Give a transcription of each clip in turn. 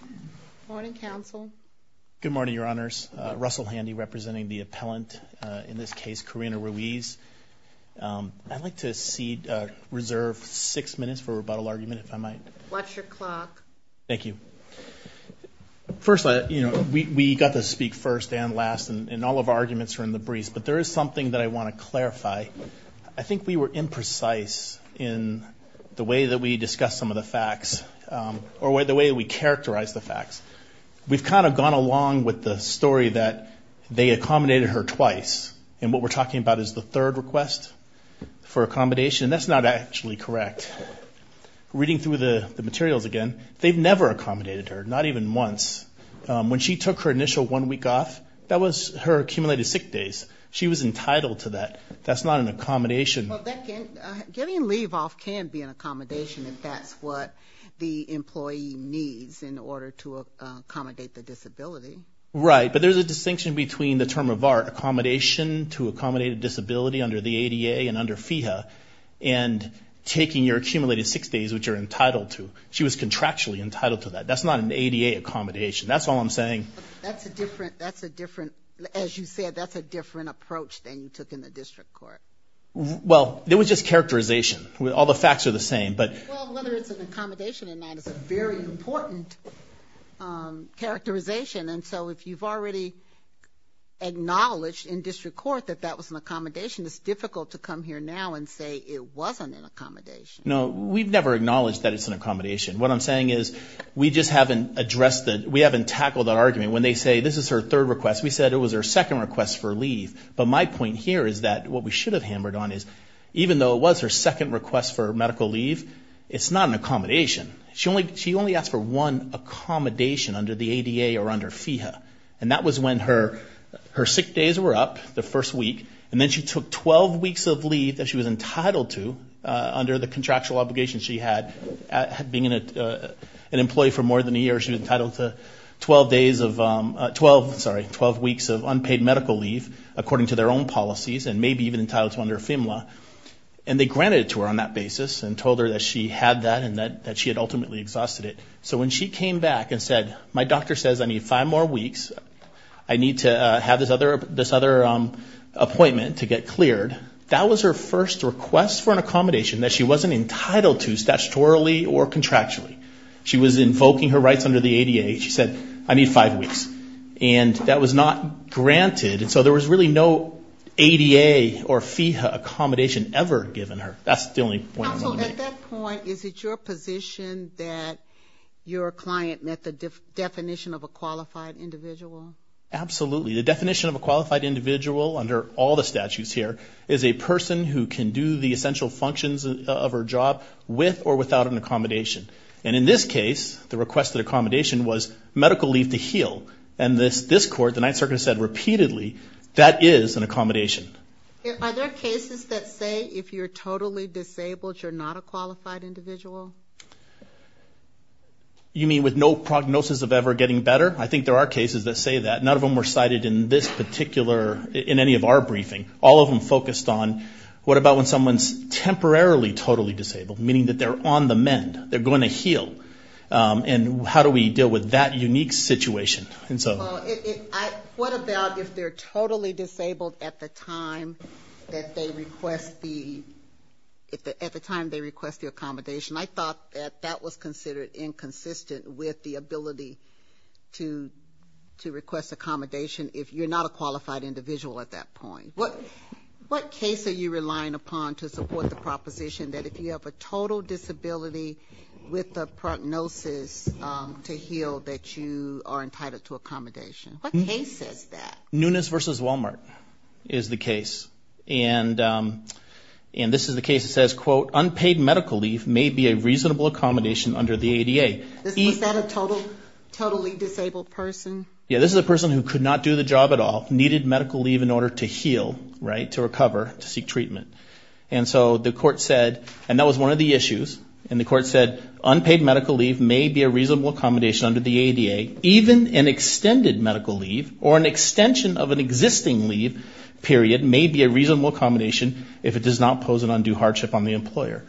Good morning, counsel. Good morning, Your Honors. Russell Handy representing the appellant, in this case, Carina Ruiz. I'd like to reserve six minutes for rebuttal argument, if I might. What's your clock? Thank you. First, we got to speak first and last, and all of our arguments are in the briefs, but there is something that I want to clarify. Or the way we characterize the facts. We've kind of gone along with the story that they accommodated her twice, and what we're talking about is the third request for accommodation, and that's not actually correct. Reading through the materials again, they've never accommodated her, not even once. When she took her initial one week off, that was her accumulated sick days. She was entitled to that. That's not an accommodation. Well, getting leave off can be an accommodation if that's what the employee needs in order to accommodate the disability. Right, but there's a distinction between the term of our accommodation to accommodate a disability under the ADA and under FEHA, and taking your accumulated sick days, which you're entitled to. She was contractually entitled to that. That's not an ADA accommodation. That's all I'm saying. That's a different, as you said, that's a different approach than you took in the district court. Well, it was just characterization. All the facts are the same. Well, whether it's an accommodation or not is a very important characterization, and so if you've already acknowledged in district court that that was an accommodation, it's difficult to come here now and say it wasn't an accommodation. No, we've never acknowledged that it's an accommodation. What I'm saying is we just haven't tackled that argument. When they say this is her third request, we said it was her second request for leave, but my point here is that what we should have hammered on is even though it was her second request for medical leave, it's not an accommodation. She only asked for one accommodation under the ADA or under FEHA, and that was when her sick days were up, the first week, and then she took 12 weeks of leave that she was entitled to under the contractual obligations she had. Being an employee for more than a year, she was entitled to 12 weeks of unpaid medical leave, according to their own policies, and maybe even entitled to under FEMA, and they granted it to her on that basis and told her that she had that and that she had ultimately exhausted it. So when she came back and said, my doctor says I need five more weeks, I need to have this other appointment to get cleared, that was her first request for an accommodation that she wasn't entitled to statutorily or contractually. She was invoking her rights under the ADA. She said, I need five weeks, and that was not granted, and so there was really no ADA or FEHA accommodation ever given her. That's the only point I'm going to make. So at that point, is it your position that your client met the definition of a qualified individual? Absolutely. The definition of a qualified individual under all the statutes here is a person who can do the essential functions of her job with or without an accommodation. And in this case, the requested accommodation was medical leave to heal, and this court, the Ninth Circuit has said repeatedly, that is an accommodation. Are there cases that say if you're totally disabled, you're not a qualified individual? You mean with no prognosis of ever getting better? I think there are cases that say that. None of them were cited in this particular, in any of our briefing. All of them focused on what about when someone's temporarily totally disabled, meaning that they're on the mend, they're going to heal, and how do we deal with that unique situation? What about if they're totally disabled at the time that they request the accommodation? I thought that that was considered inconsistent with the ability to request accommodation if you're not a qualified individual at that point. What case are you relying upon to support the proposition that if you have a total disability with a prognosis to heal that you are entitled to accommodation? What case is that? Nunes v. Walmart is the case. And this is the case that says, quote, unpaid medical leave may be a reasonable accommodation under the ADA. Is that a totally disabled person? Yeah, this is a person who could not do the job at all, needed medical leave in order to heal, right, to recover, to seek treatment. And so the court said, and that was one of the issues, and the court said unpaid medical leave may be a reasonable accommodation under the ADA. Even an extended medical leave or an extension of an existing leave period may be a reasonable accommodation if it does not pose an undue hardship on the employer.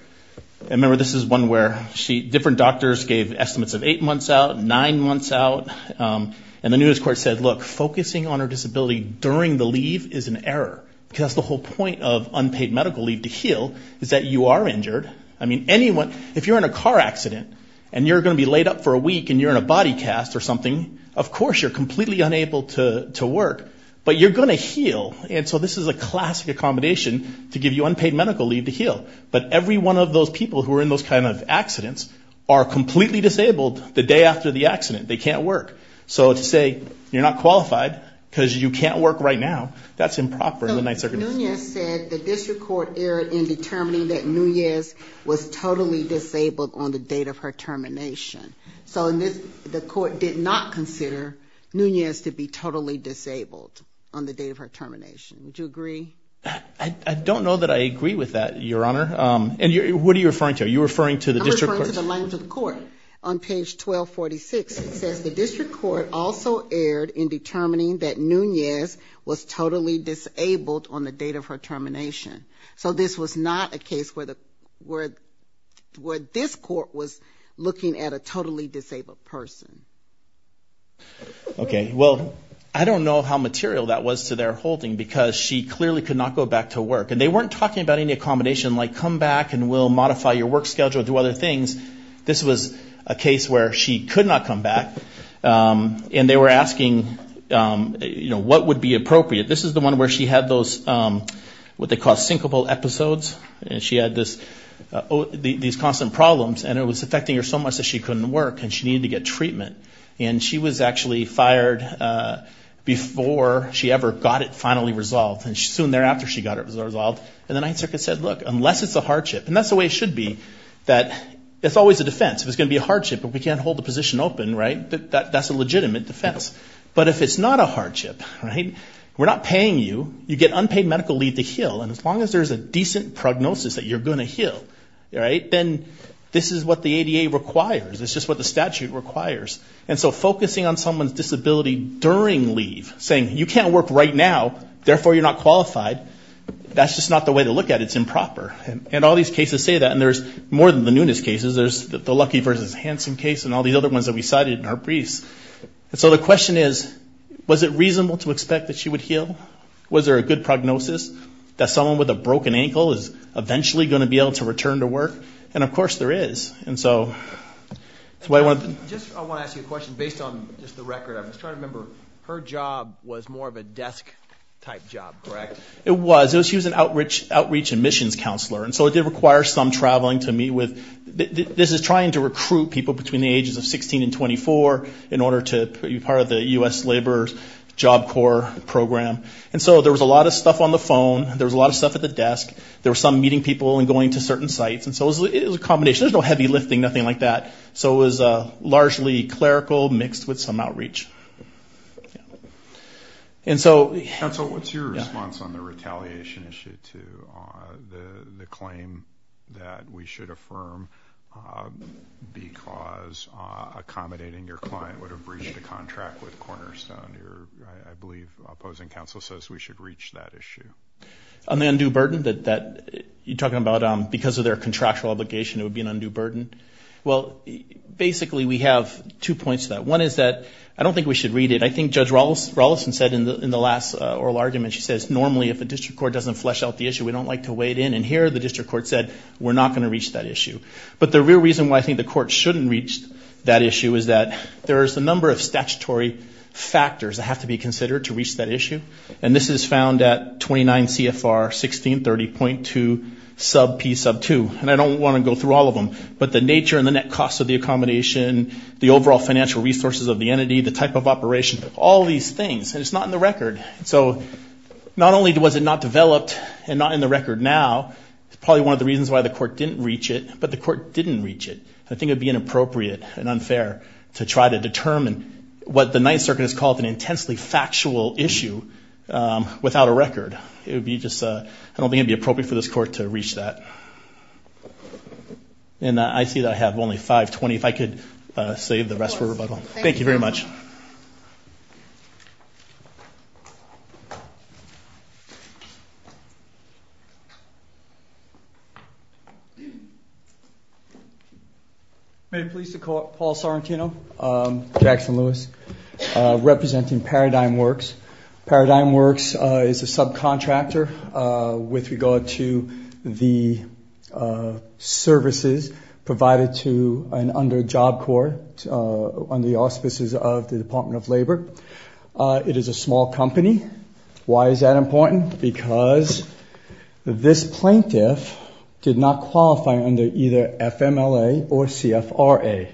And remember, this is one where different doctors gave estimates of eight months out, nine months out, and the Nunes court said, look, focusing on a disability during the leave is an error because that's the whole point of unpaid medical leave to heal is that you are injured. I mean, if you're in a car accident and you're going to be laid up for a week and you're in a body cast or something, of course you're completely unable to work, but you're going to heal, and so this is a classic accommodation to give you unpaid medical leave to heal. are completely disabled the day after the accident. They can't work. So to say you're not qualified because you can't work right now, that's improper in the Ninth Circuit. Nunes said the district court erred in determining that Nunes was totally disabled on the date of her termination. So the court did not consider Nunes to be totally disabled on the date of her termination. Do you agree? I don't know that I agree with that, Your Honor. And what are you referring to? I'm referring to the language of the court on page 1246. It says the district court also erred in determining that Nunes was totally disabled on the date of her termination. So this was not a case where this court was looking at a totally disabled person. Okay. Well, I don't know how material that was to their holding because she clearly could not go back to work, and they weren't talking about any accommodation like come back and we'll modify your work schedule, do other things. This was a case where she could not come back, and they were asking, you know, what would be appropriate. This is the one where she had those what they call syncopal episodes, and she had these constant problems, and it was affecting her so much that she couldn't work and she needed to get treatment. And she was actually fired before she ever got it finally resolved. And soon thereafter she got it resolved, and the Ninth Circuit said, look, unless it's a hardship, and that's the way it should be, that it's always a defense. If it's going to be a hardship and we can't hold the position open, right, that's a legitimate defense. But if it's not a hardship, right, we're not paying you, you get unpaid medical leave to heal, and as long as there's a decent prognosis that you're going to heal, right, then this is what the ADA requires. It's just what the statute requires. And so focusing on someone's disability during leave, saying you can't work right now, therefore you're not qualified, that's just not the way to look at it. It's improper. And all these cases say that, and there's more than the Nunez cases. There's the Lucky versus Hanson case and all these other ones that we cited in our briefs. And so the question is, was it reasonable to expect that she would heal? Was there a good prognosis that someone with a broken ankle is eventually going to be able to return to work? And, of course, there is. And so that's why I wanted to. I want to ask you a question based on just the record. I'm just trying to remember, her job was more of a desk-type job, correct? It was. She was an outreach and missions counselor. And so it did require some traveling to meet with. This is trying to recruit people between the ages of 16 and 24 in order to be part of the U.S. Labor Job Corps program. And so there was a lot of stuff on the phone. There was a lot of stuff at the desk. There were some meeting people and going to certain sites. And so it was a combination. There was no heavy lifting, nothing like that. So it was largely clerical mixed with some outreach. Counsel, what's your response on the retaliation issue to the claim that we should affirm because accommodating your client would have breached a contract with Cornerstone? I believe opposing counsel says we should reach that issue. On the undue burden that you're talking about, because of their contractual obligation, it would be an undue burden. Well, basically we have two points to that. One is that I don't think we should read it. I think Judge Rolison said in the last oral argument, she says, normally if a district court doesn't flesh out the issue, we don't like to weigh it in. And here the district court said we're not going to reach that issue. But the real reason why I think the court shouldn't reach that issue is that there is a number of statutory factors that have to be considered to reach that issue. And this is found at 29 CFR 1630.2 sub P sub 2. And I don't want to go through all of them. But the nature and the net cost of the accommodation, the overall financial resources of the entity, the type of operation, all these things. And it's not in the record. So not only was it not developed and not in the record now, it's probably one of the reasons why the court didn't reach it. But the court didn't reach it. I think it would be inappropriate and unfair to try to determine what the Ninth Circuit has called an intensely factual issue without a record. It would be just, I don't think it would be appropriate for this court to reach that. And I see that I have only 520. If I could save the rest for rebuttal. Thank you very much. I'm very pleased to call Paul Sorrentino, Jackson Lewis, representing Paradigm Works. Paradigm Works is a subcontractor with regard to the services provided to under the auspices of the Department of Labor. It is a small company. Why is that important? Because this plaintiff did not qualify under either FMLA or CFRA.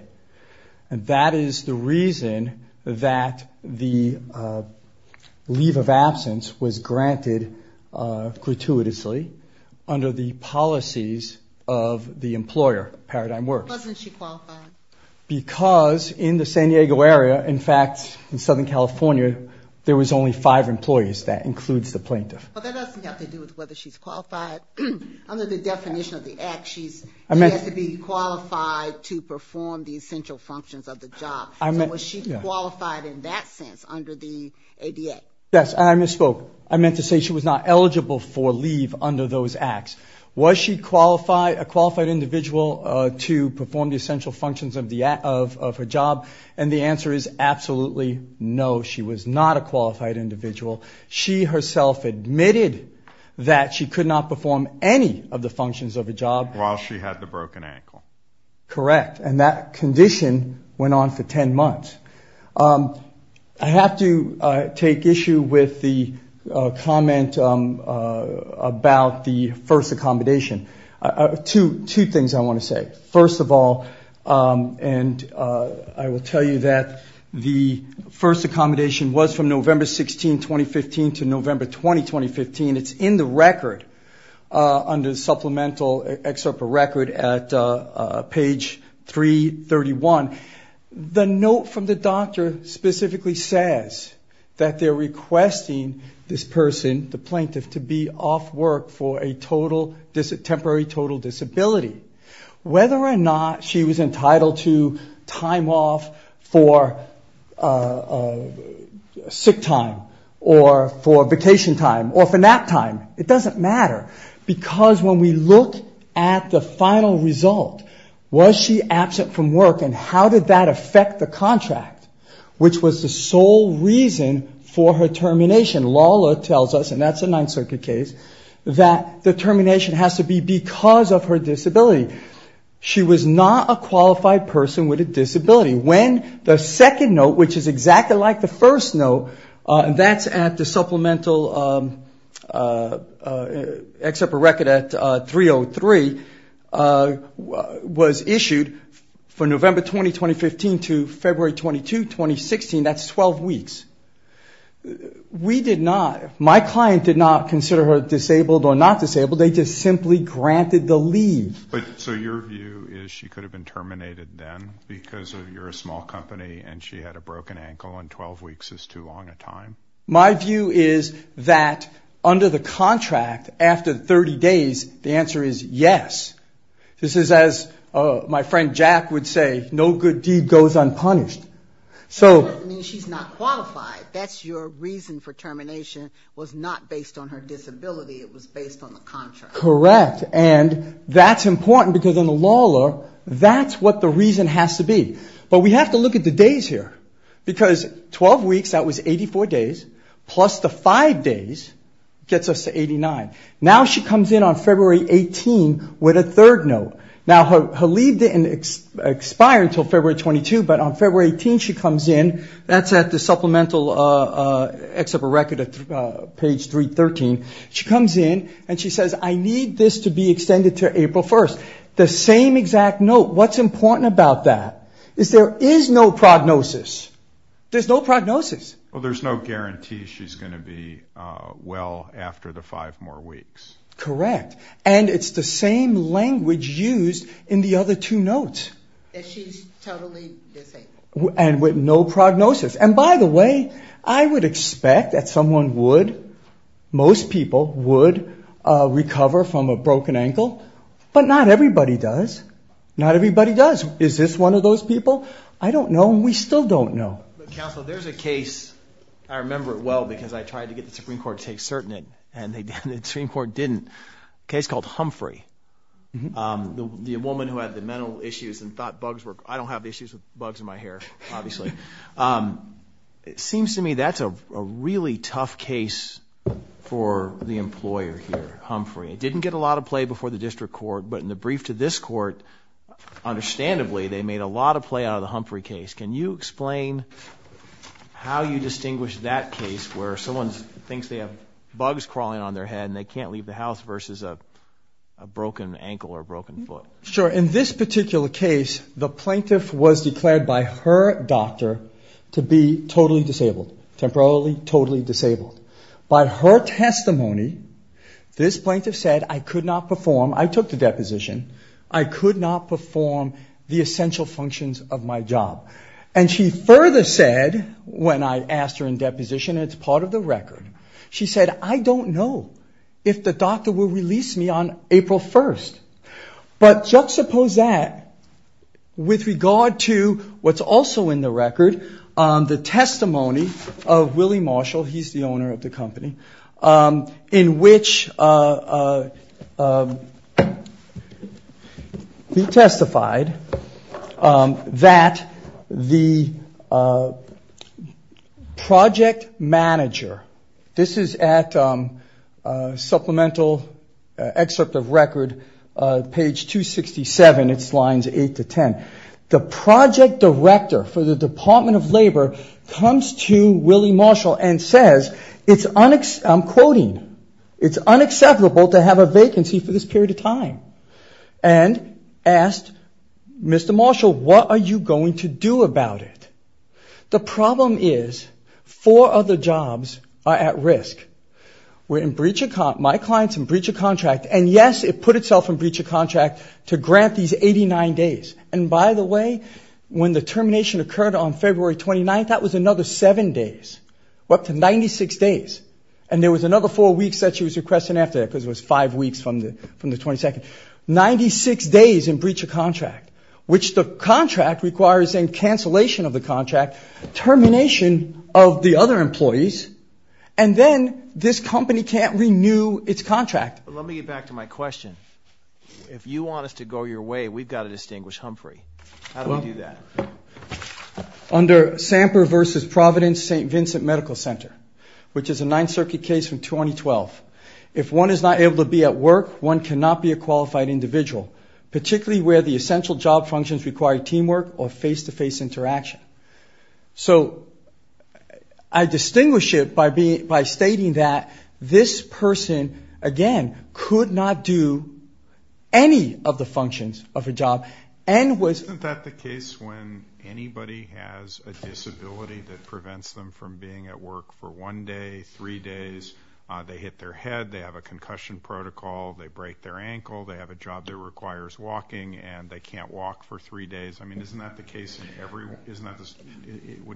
And that is the reason that the leave of absence was granted gratuitously under the policies of the employer, Paradigm Works. Why wasn't she qualified? Because in the San Diego area, in fact, in Southern California, there was only five employees. That includes the plaintiff. But that doesn't have to do with whether she's qualified. Under the definition of the act, she has to be qualified to perform the essential functions of the job. So was she qualified in that sense under the ADA? Yes, and I misspoke. I meant to say she was not eligible for leave under those acts. Was she a qualified individual to perform the essential functions of her job? And the answer is absolutely no, she was not a qualified individual. She herself admitted that she could not perform any of the functions of a job. While she had the broken ankle. Correct. And that condition went on for 10 months. I have to take issue with the comment about the first accommodation. Two things I want to say. First of all, and I will tell you that the first accommodation was from November 16, 2015, to November 20, 2015. It's in the record under the supplemental excerpt for record at page 331. The note from the doctor specifically says that they're requesting this person, the plaintiff, to be off work for a temporary total disability. Whether or not she was entitled to time off for sick time or for vacation time or for nap time, it doesn't matter. Because when we look at the final result, was she absent from work and how did that affect the contract? Which was the sole reason for her termination. Lala tells us, and that's a Ninth Circuit case, that the termination has to be because of her disability. She was not a qualified person with a disability. When the second note, which is exactly like the first note, that's at the supplemental excerpt for record at 303, was issued for November 20, 2015 to February 22, 2016. That's 12 weeks. We did not, my client did not consider her disabled or not disabled. They just simply granted the leave. So your view is she could have been terminated then because you're a small company and she had a broken ankle and 12 weeks is too long a time? My view is that under the contract, after 30 days, the answer is yes. This is as my friend Jack would say, no good deed goes unpunished. That doesn't mean she's not qualified. That's your reason for termination was not based on her disability. It was based on the contract. Correct. And that's important because in the Lala, that's what the reason has to be. But we have to look at the days here because 12 weeks, that was 84 days, plus the five days gets us to 89. Now she comes in on February 18 with a third note. Now her leave didn't expire until February 22, but on February 18 she comes in. That's at the supplemental excerpt for record at page 313. She comes in and she says, I need this to be extended to April 1st. The same exact note. What's important about that is there is no prognosis. There's no prognosis. Well, there's no guarantee she's going to be well after the five more weeks. Correct. And it's the same language used in the other two notes. That she's totally disabled. And with no prognosis. And by the way, I would expect that someone would, most people would, recover from a broken ankle. But not everybody does. Not everybody does. Is this one of those people? I don't know and we still don't know. Counsel, there's a case, I remember it well because I tried to get the Supreme Court to take cert in it. And the Supreme Court didn't. A case called Humphrey. The woman who had the mental issues and thought bugs were, I don't have issues with bugs in my hair, obviously. It seems to me that's a really tough case for the employer here, Humphrey. It didn't get a lot of play before the district court. But in the brief to this court, understandably, they made a lot of play out of the Humphrey case. Can you explain how you distinguish that case where someone thinks they have bugs crawling on their head and they can't leave the house versus a broken ankle or broken foot? Sure. In this particular case, the plaintiff was declared by her doctor to be totally disabled. Temporarily totally disabled. By her testimony, this plaintiff said, I could not perform, I took the deposition, I could not perform the essential functions of my job. And she further said, when I asked her in deposition, and it's part of the record, she said, I don't know if the doctor will release me on April 1st. But juxtapose that with regard to what's also in the record, the testimony of Willie Marshall, he's the owner of the company, in which he testified that the project manager, this is at supplemental excerpt of record, page 267, it's lines 8 to 10. The project director for the Department of Labor comes to Willie Marshall and says, I'm quoting, it's unacceptable to have a vacancy for this period of time. And asked Mr. Marshall, what are you going to do about it? The problem is four other jobs are at risk. We're in breach of contract, my client's in breach of contract, and yes, it put itself in breach of contract to grant these 89 days. And by the way, when the termination occurred on February 29th, that was another seven days. Up to 96 days. And there was another four weeks that she was requesting after that, because it was five weeks from the 22nd. Ninety-six days in breach of contract, which the contract requires a cancellation of the contract, termination of the other employees, and then this company can't renew its contract. Let me get back to my question. If you want us to go your way, we've got to distinguish Humphrey. How do we do that? Under Samper v. Providence St. Vincent Medical Center, which is a Ninth Circuit case from 2012, if one is not able to be at work, one cannot be a qualified individual, particularly where the essential job functions require teamwork or face-to-face interaction. So I distinguish it by stating that this person, again, could not do any of the functions of a job. Isn't that the case when anybody has a disability that prevents them from being at work for one day, three days, they hit their head, they have a concussion protocol, they break their ankle, they have a job that requires walking and they can't walk for three days? I mean, wouldn't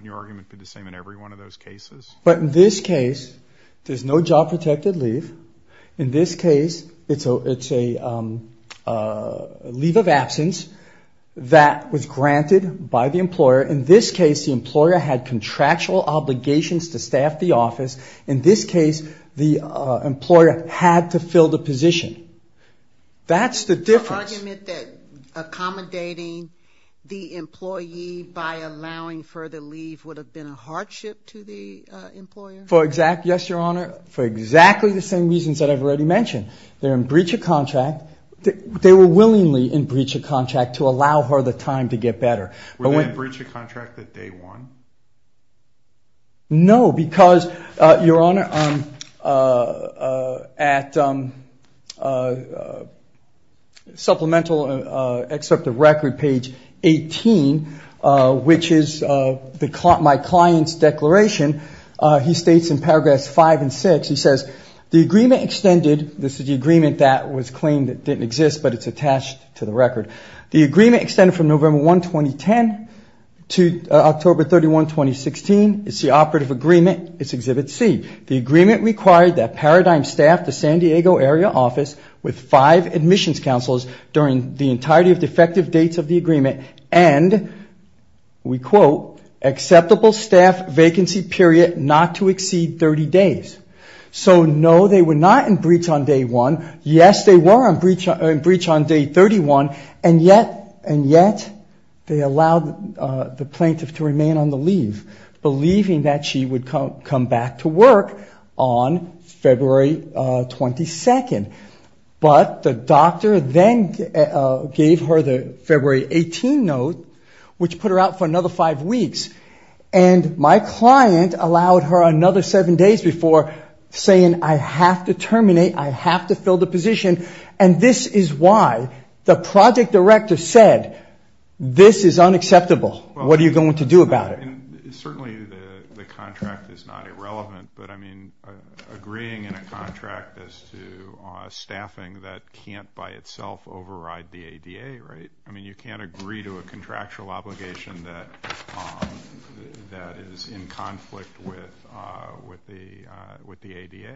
your argument be the same in every one of those cases? But in this case, there's no job protected leave. In this case, it's a leave of absence that was granted by the employer. In this case, the employer had contractual obligations to staff the office. In this case, the employer had to fill the position. That's the difference. Is your argument that accommodating the employee by allowing further leave would have been a hardship to the employer? Yes, Your Honor, for exactly the same reasons that I've already mentioned. They're in breach of contract. They were willingly in breach of contract to allow her the time to get better. Were they in breach of contract that day one? No, because, Your Honor, at supplemental excerpt of record page 18, which is my client's declaration, he states in paragraphs five and six, he says, the agreement extended, this is the agreement that was claimed that didn't exist, but it's attached to the record. The agreement extended from November 1, 2010 to October 31, 2016. It's the operative agreement. It's Exhibit C. The agreement required that Paradigm staff the San Diego area office with five admissions counselors during the entirety of defective dates of the agreement and, we quote, acceptable staff vacancy period not to exceed 30 days. So, no, they were not in breach on day one. Yes, they were in breach on day 31, and yet they allowed the plaintiff to remain on the leave, believing that she would come back to work on February 22. But the doctor then gave her the February 18 note, which put her out for another five weeks, and my client allowed her another seven days before saying, I have to terminate, I have to fill the position, and this is why the project director said, this is unacceptable. What are you going to do about it? Certainly the contract is not irrelevant, but, I mean, agreeing in a contract as to staffing that can't by itself override the ADA, right? I mean, you can't agree to a contractual obligation that is in conflict with the ADA.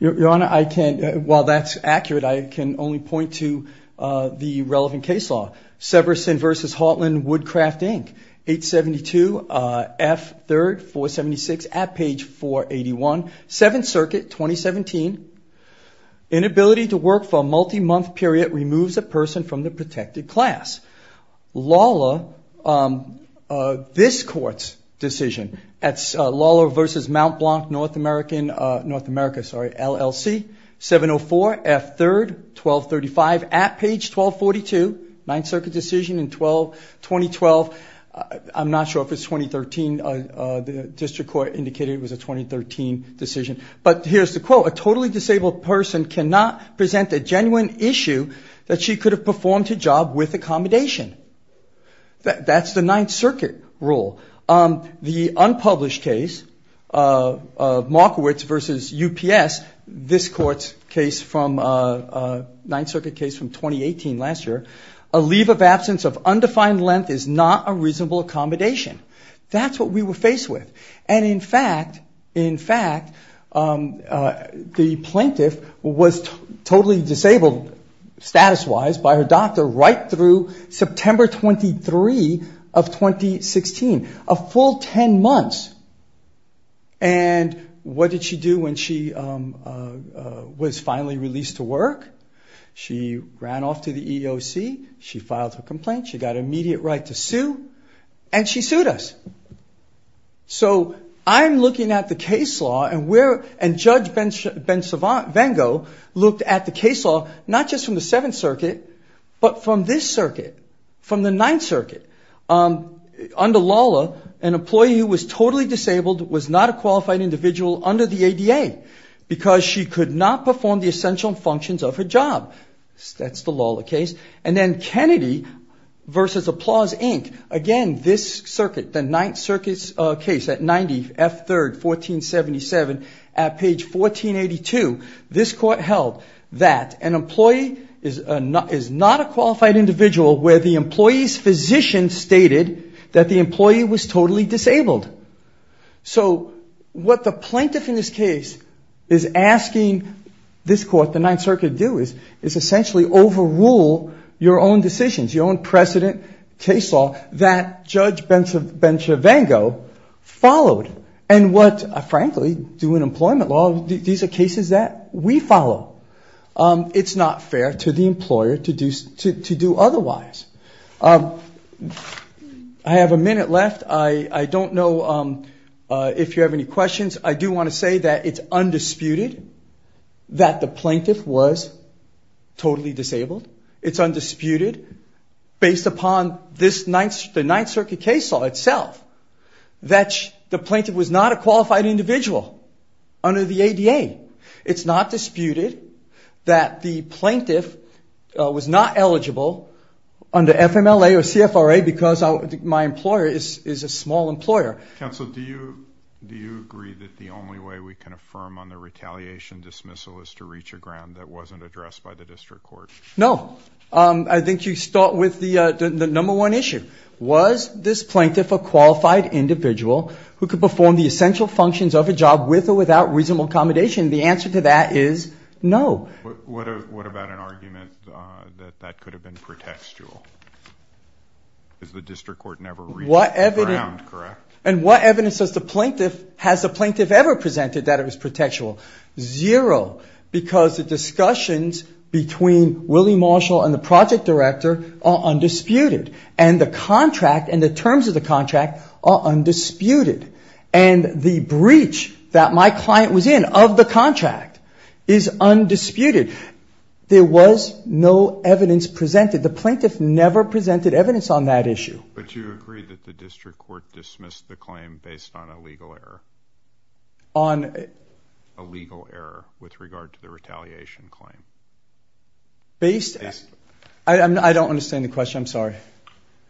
Your Honor, I can't, while that's accurate, I can only point to the relevant case law. Severson v. Haughtland, Woodcraft, Inc., 872F3-476, at page 481, Seventh Circuit, 2017. Inability to work for a multi-month period removes a person from the protected class. Lawlor, this Court's decision, Lawlor v. Mount Blanc, North America, LLC, 704F3-1235, at page 1242, Ninth Circuit decision in 2012. I'm not sure if it's 2013. The district court indicated it was a 2013 decision. But here's the quote, a totally disabled person cannot present a genuine issue that she could have performed her job with accommodation. That's the Ninth Circuit rule. The unpublished case of Markowitz v. UPS, this Court's case from, Ninth Circuit case from 2018, last year, a leave of absence of undefined length is not a reasonable accommodation. That's what we were faced with. And in fact, in fact, the plaintiff was totally disabled, status-wise, by her doctor right through September 23 of 2016, a full 10 months. And what did she do when she was finally released to work? She ran off to the EEOC. She filed her complaint. She got immediate right to sue. And she sued us. So I'm looking at the case law and Judge Benvengo looked at the case law, not just from the Seventh Circuit, but from this circuit, from the Ninth Circuit. Under LALA, an employee who was totally disabled was not a qualified individual under the ADA because she could not perform the essential functions of her job. That's the LALA case. And then Kennedy v. Applause, Inc., again, this circuit, the Ninth Circuit case, at 90 F. 3rd, 1477, at page 1482, this Court held that an employee is not a qualified individual where the employee's physician stated that the employee was totally disabled. So what the plaintiff in this case is asking this Court, the Ninth Circuit, to do is essentially overrule your own decisions, your own precedent case law that Judge Benvengo followed. And what, frankly, do in employment law, these are cases that we follow. It's not fair to the employer to do otherwise. I have a minute left. I don't know if you have any questions. I do want to say that it's undisputed that the plaintiff was totally disabled. It's undisputed, based upon the Ninth Circuit case law itself, that the plaintiff was not a qualified individual under the ADA. It's not disputed that the plaintiff was not eligible under FMLA or CFRA because my employer is a small employer. Counsel, do you agree that the only way we can affirm on the retaliation dismissal is to reach a ground that wasn't addressed by the district court? No. I think you start with the number one issue. Was this plaintiff a qualified individual who could perform the essential functions of a job with or without reasonable accommodation? The answer to that is no. What about an argument that that could have been pretextual? Because the district court never reached the ground, correct? And what evidence has the plaintiff ever presented that it was pretextual? Zero. Because the discussions between Willie Marshall and the project director are undisputed. And the contract and the terms of the contract are undisputed. And the breach that my client was in of the contract is undisputed. There was no evidence presented. The plaintiff never presented evidence on that issue. But you agree that the district court dismissed the claim based on a legal error. On? A legal error with regard to the retaliation claim. Based? Based. I don't understand the question. I'm sorry.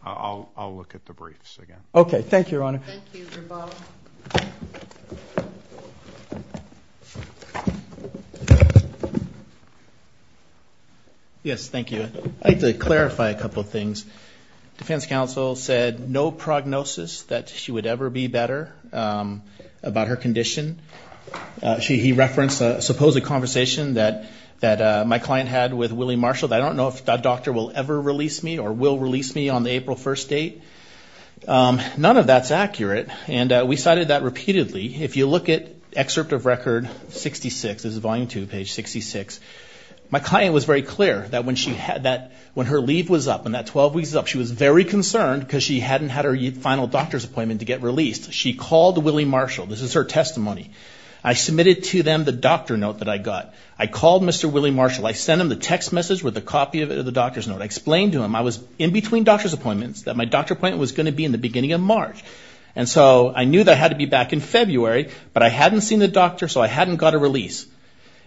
I'll look at the briefs again. Okay. Thank you, Your Honor. Thank you. Rebala. Yes, thank you. I'd like to clarify a couple of things. Defense counsel said no prognosis that she would ever be better about her condition. He referenced a supposed conversation that my client had with Willie Marshall. I don't know if that doctor will ever release me or will release me on the April 1st date. None of that's accurate. And we cited that repeatedly. If you look at excerpt of record 66, this is volume 2, page 66, my client was very clear that when her leave was up and that 12 weeks was up, she was very concerned because she hadn't had her final doctor's appointment to get released. She called Willie Marshall. This is her testimony. I submitted to them the doctor note that I got. I called Mr. Willie Marshall. I sent him the text message with a copy of the doctor's note. I explained to him I was in between doctor's appointments, that my doctor appointment was going to be in the beginning of March. And so I knew that I had to be back in February, but I hadn't seen the doctor, so I hadn't got a release.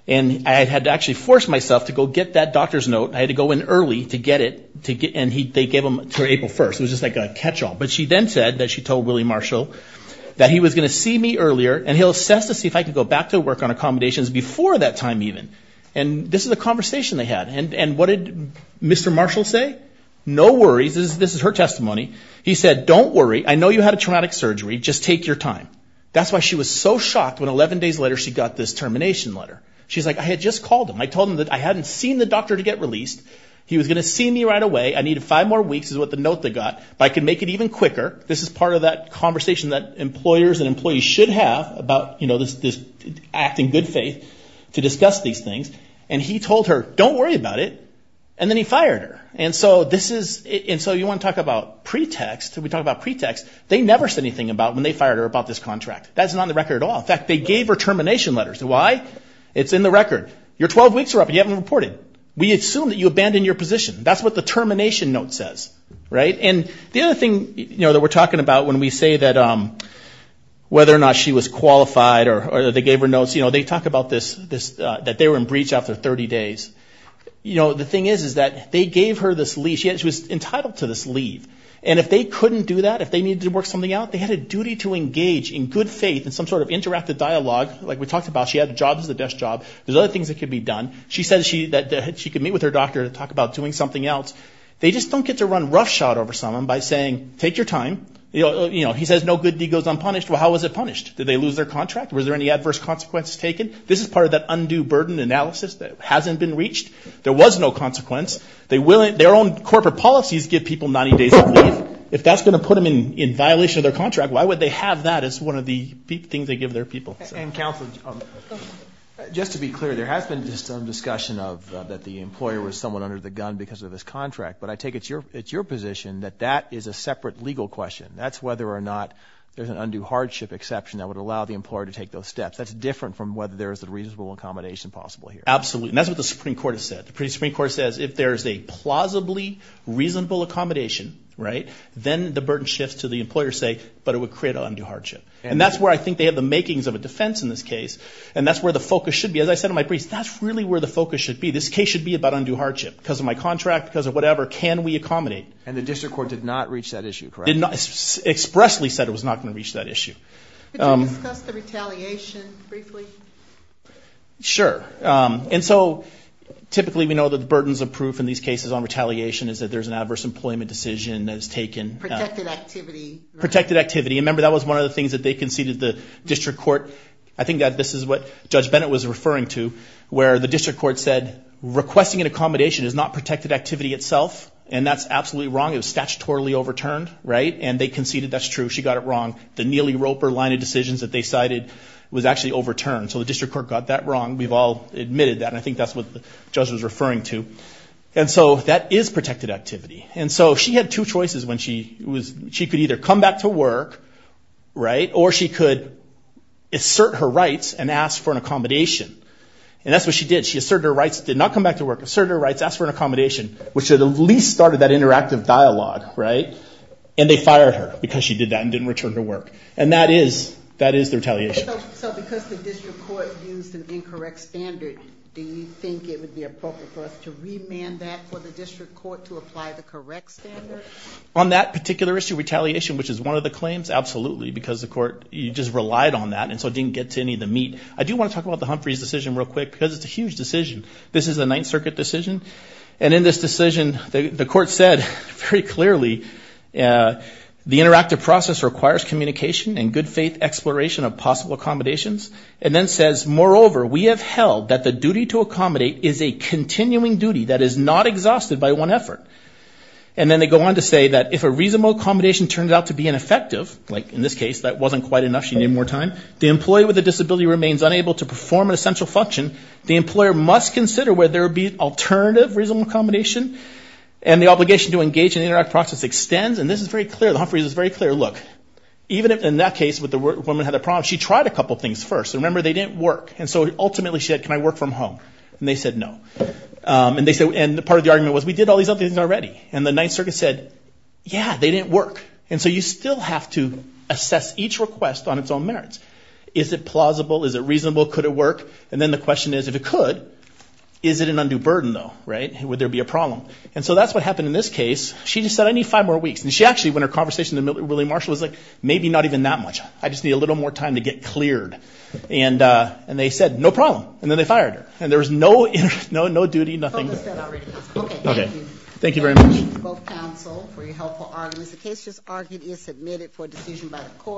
And I had to actually force myself to go get that doctor's note. I had to go in early to get it, and they gave them to her April 1st. It was just like a catch-all. But she then said that she told Willie Marshall that he was going to see me earlier, and he'll assess to see if I can go back to work on accommodations before that time even. And this is a conversation they had. And what did Mr. Marshall say? No worries. This is her testimony. He said, don't worry. I know you had a traumatic surgery. Just take your time. That's why she was so shocked when 11 days later she got this termination letter. She's like, I had just called him. I told him that I hadn't seen the doctor to get released. He was going to see me right away. I needed five more weeks is what the note that got. But I could make it even quicker. This is part of that conversation that employers and employees should have about acting in good faith to discuss these things. And he told her, don't worry about it. And then he fired her. And so you want to talk about pretext. We talk about pretext. They never said anything about when they fired her about this contract. That's not in the record at all. In fact, they gave her termination letters. Why? It's in the record. Your 12 weeks are up and you haven't reported. We assume that you abandoned your position. That's what the termination note says. And the other thing that we're talking about when we say that whether or not she was qualified or they gave her notes, they talk about this, that they were in breach after 30 days. The thing is that they gave her this leave. She was entitled to this leave. And if they couldn't do that, if they needed to work something out, they had a duty to engage in good faith in some sort of interactive dialogue. Like we talked about, she had jobs as a desk job. There's other things that could be done. She said that she could meet with her doctor to talk about doing something else. They just don't get to run roughshod over someone by saying, take your time. He says no good deed goes unpunished. Well, how was it punished? Did they lose their contract? Were there any adverse consequences taken? This is part of that undue burden analysis that hasn't been reached. There was no consequence. Their own corporate policies give people 90 days of leave. If that's going to put them in violation of their contract, why would they have that as one of the things they give their people? And counsel, just to be clear, there has been some discussion that the employer was somewhat under the gun because of his contract. But I take it's your position that that is a separate legal question. That's whether or not there's an undue hardship exception that would allow the employer to take those steps. That's different from whether there is a reasonable accommodation possible here. Absolutely. And that's what the Supreme Court has said. The Supreme Court says if there's a plausibly reasonable accommodation, then the burden shifts to the employer's sake, but it would create an undue hardship. And that's where I think they have the makings of a defense in this case. And that's where the focus should be. As I said to my priest, that's really where the focus should be. This case should be about undue hardship. Because of my contract, because of whatever, can we accommodate? And the district court did not reach that issue, correct? It expressly said it was not going to reach that issue. Could you discuss the retaliation briefly? Sure. And so typically we know that the burdens of proof in these cases on retaliation is that there's an adverse employment decision that is taken. Protected activity. Protected activity. Remember, that was one of the things that they conceded the district court. I think that this is what Judge Bennett was referring to, where the district court said requesting an accommodation is not protected activity itself. And that's absolutely wrong. It was statutorily overturned, right? And they conceded that's true. She got it wrong. The Neely-Roper line of decisions that they cited was actually overturned. So the district court got that wrong. We've all admitted that. And I think that's what the judge was referring to. And so that is protected activity. And so she had two choices when she could either come back to work, right, or she could assert her rights and ask for an accommodation. And that's what she did. She asserted her rights. Did not come back to work. Asserted her rights. Asked for an accommodation, which at least started that interactive dialogue, right? And they fired her because she did that and didn't return to work. And that is the retaliation. So because the district court used an incorrect standard, do you think it would be appropriate for us to remand that for the district court to apply the correct standard? On that particular issue, retaliation, which is one of the claims, absolutely because the court just relied on that and so it didn't get to any of the meat. I do want to talk about the Humphreys decision real quick because it's a huge decision. This is a Ninth Circuit decision. And in this decision, the court said very clearly, the interactive process requires communication and good faith exploration of possible accommodations. And then says, moreover, we have held that the duty to accommodate is a continuing duty that is not exhausted by one effort. And then they go on to say that if a reasonable accommodation turns out to be ineffective, like in this case, that wasn't quite enough, she needed more time, the employee with a disability remains unable to perform an essential function, the employer must consider whether there would be alternative reasonable accommodation. And the obligation to engage in the interactive process extends. And this is very clear. The Humphreys is very clear. Look, even in that case where the woman had a problem, she tried a couple things first. Remember, they didn't work. And so ultimately she said, can I work from home? And they said no. And part of the argument was, we did all these other things already. And the Ninth Circuit said, yeah, they didn't work. And so you still have to assess each request on its own merits. Is it plausible? Is it reasonable? Could it work? And then the question is, if it could, is it an undue burden though? Would there be a problem? And so that's what happened in this case. She just said, I need five more weeks. And she actually, when her conversation with Willie Marshall was like, maybe not even that much. I just need a little more time to get cleared. And they said, no problem. And then they fired her. And there was no duty, nothing. Okay, thank you. Thank you very much. Thank you both counsel for your helpful arguments. The case just argued is submitted for decision by the court.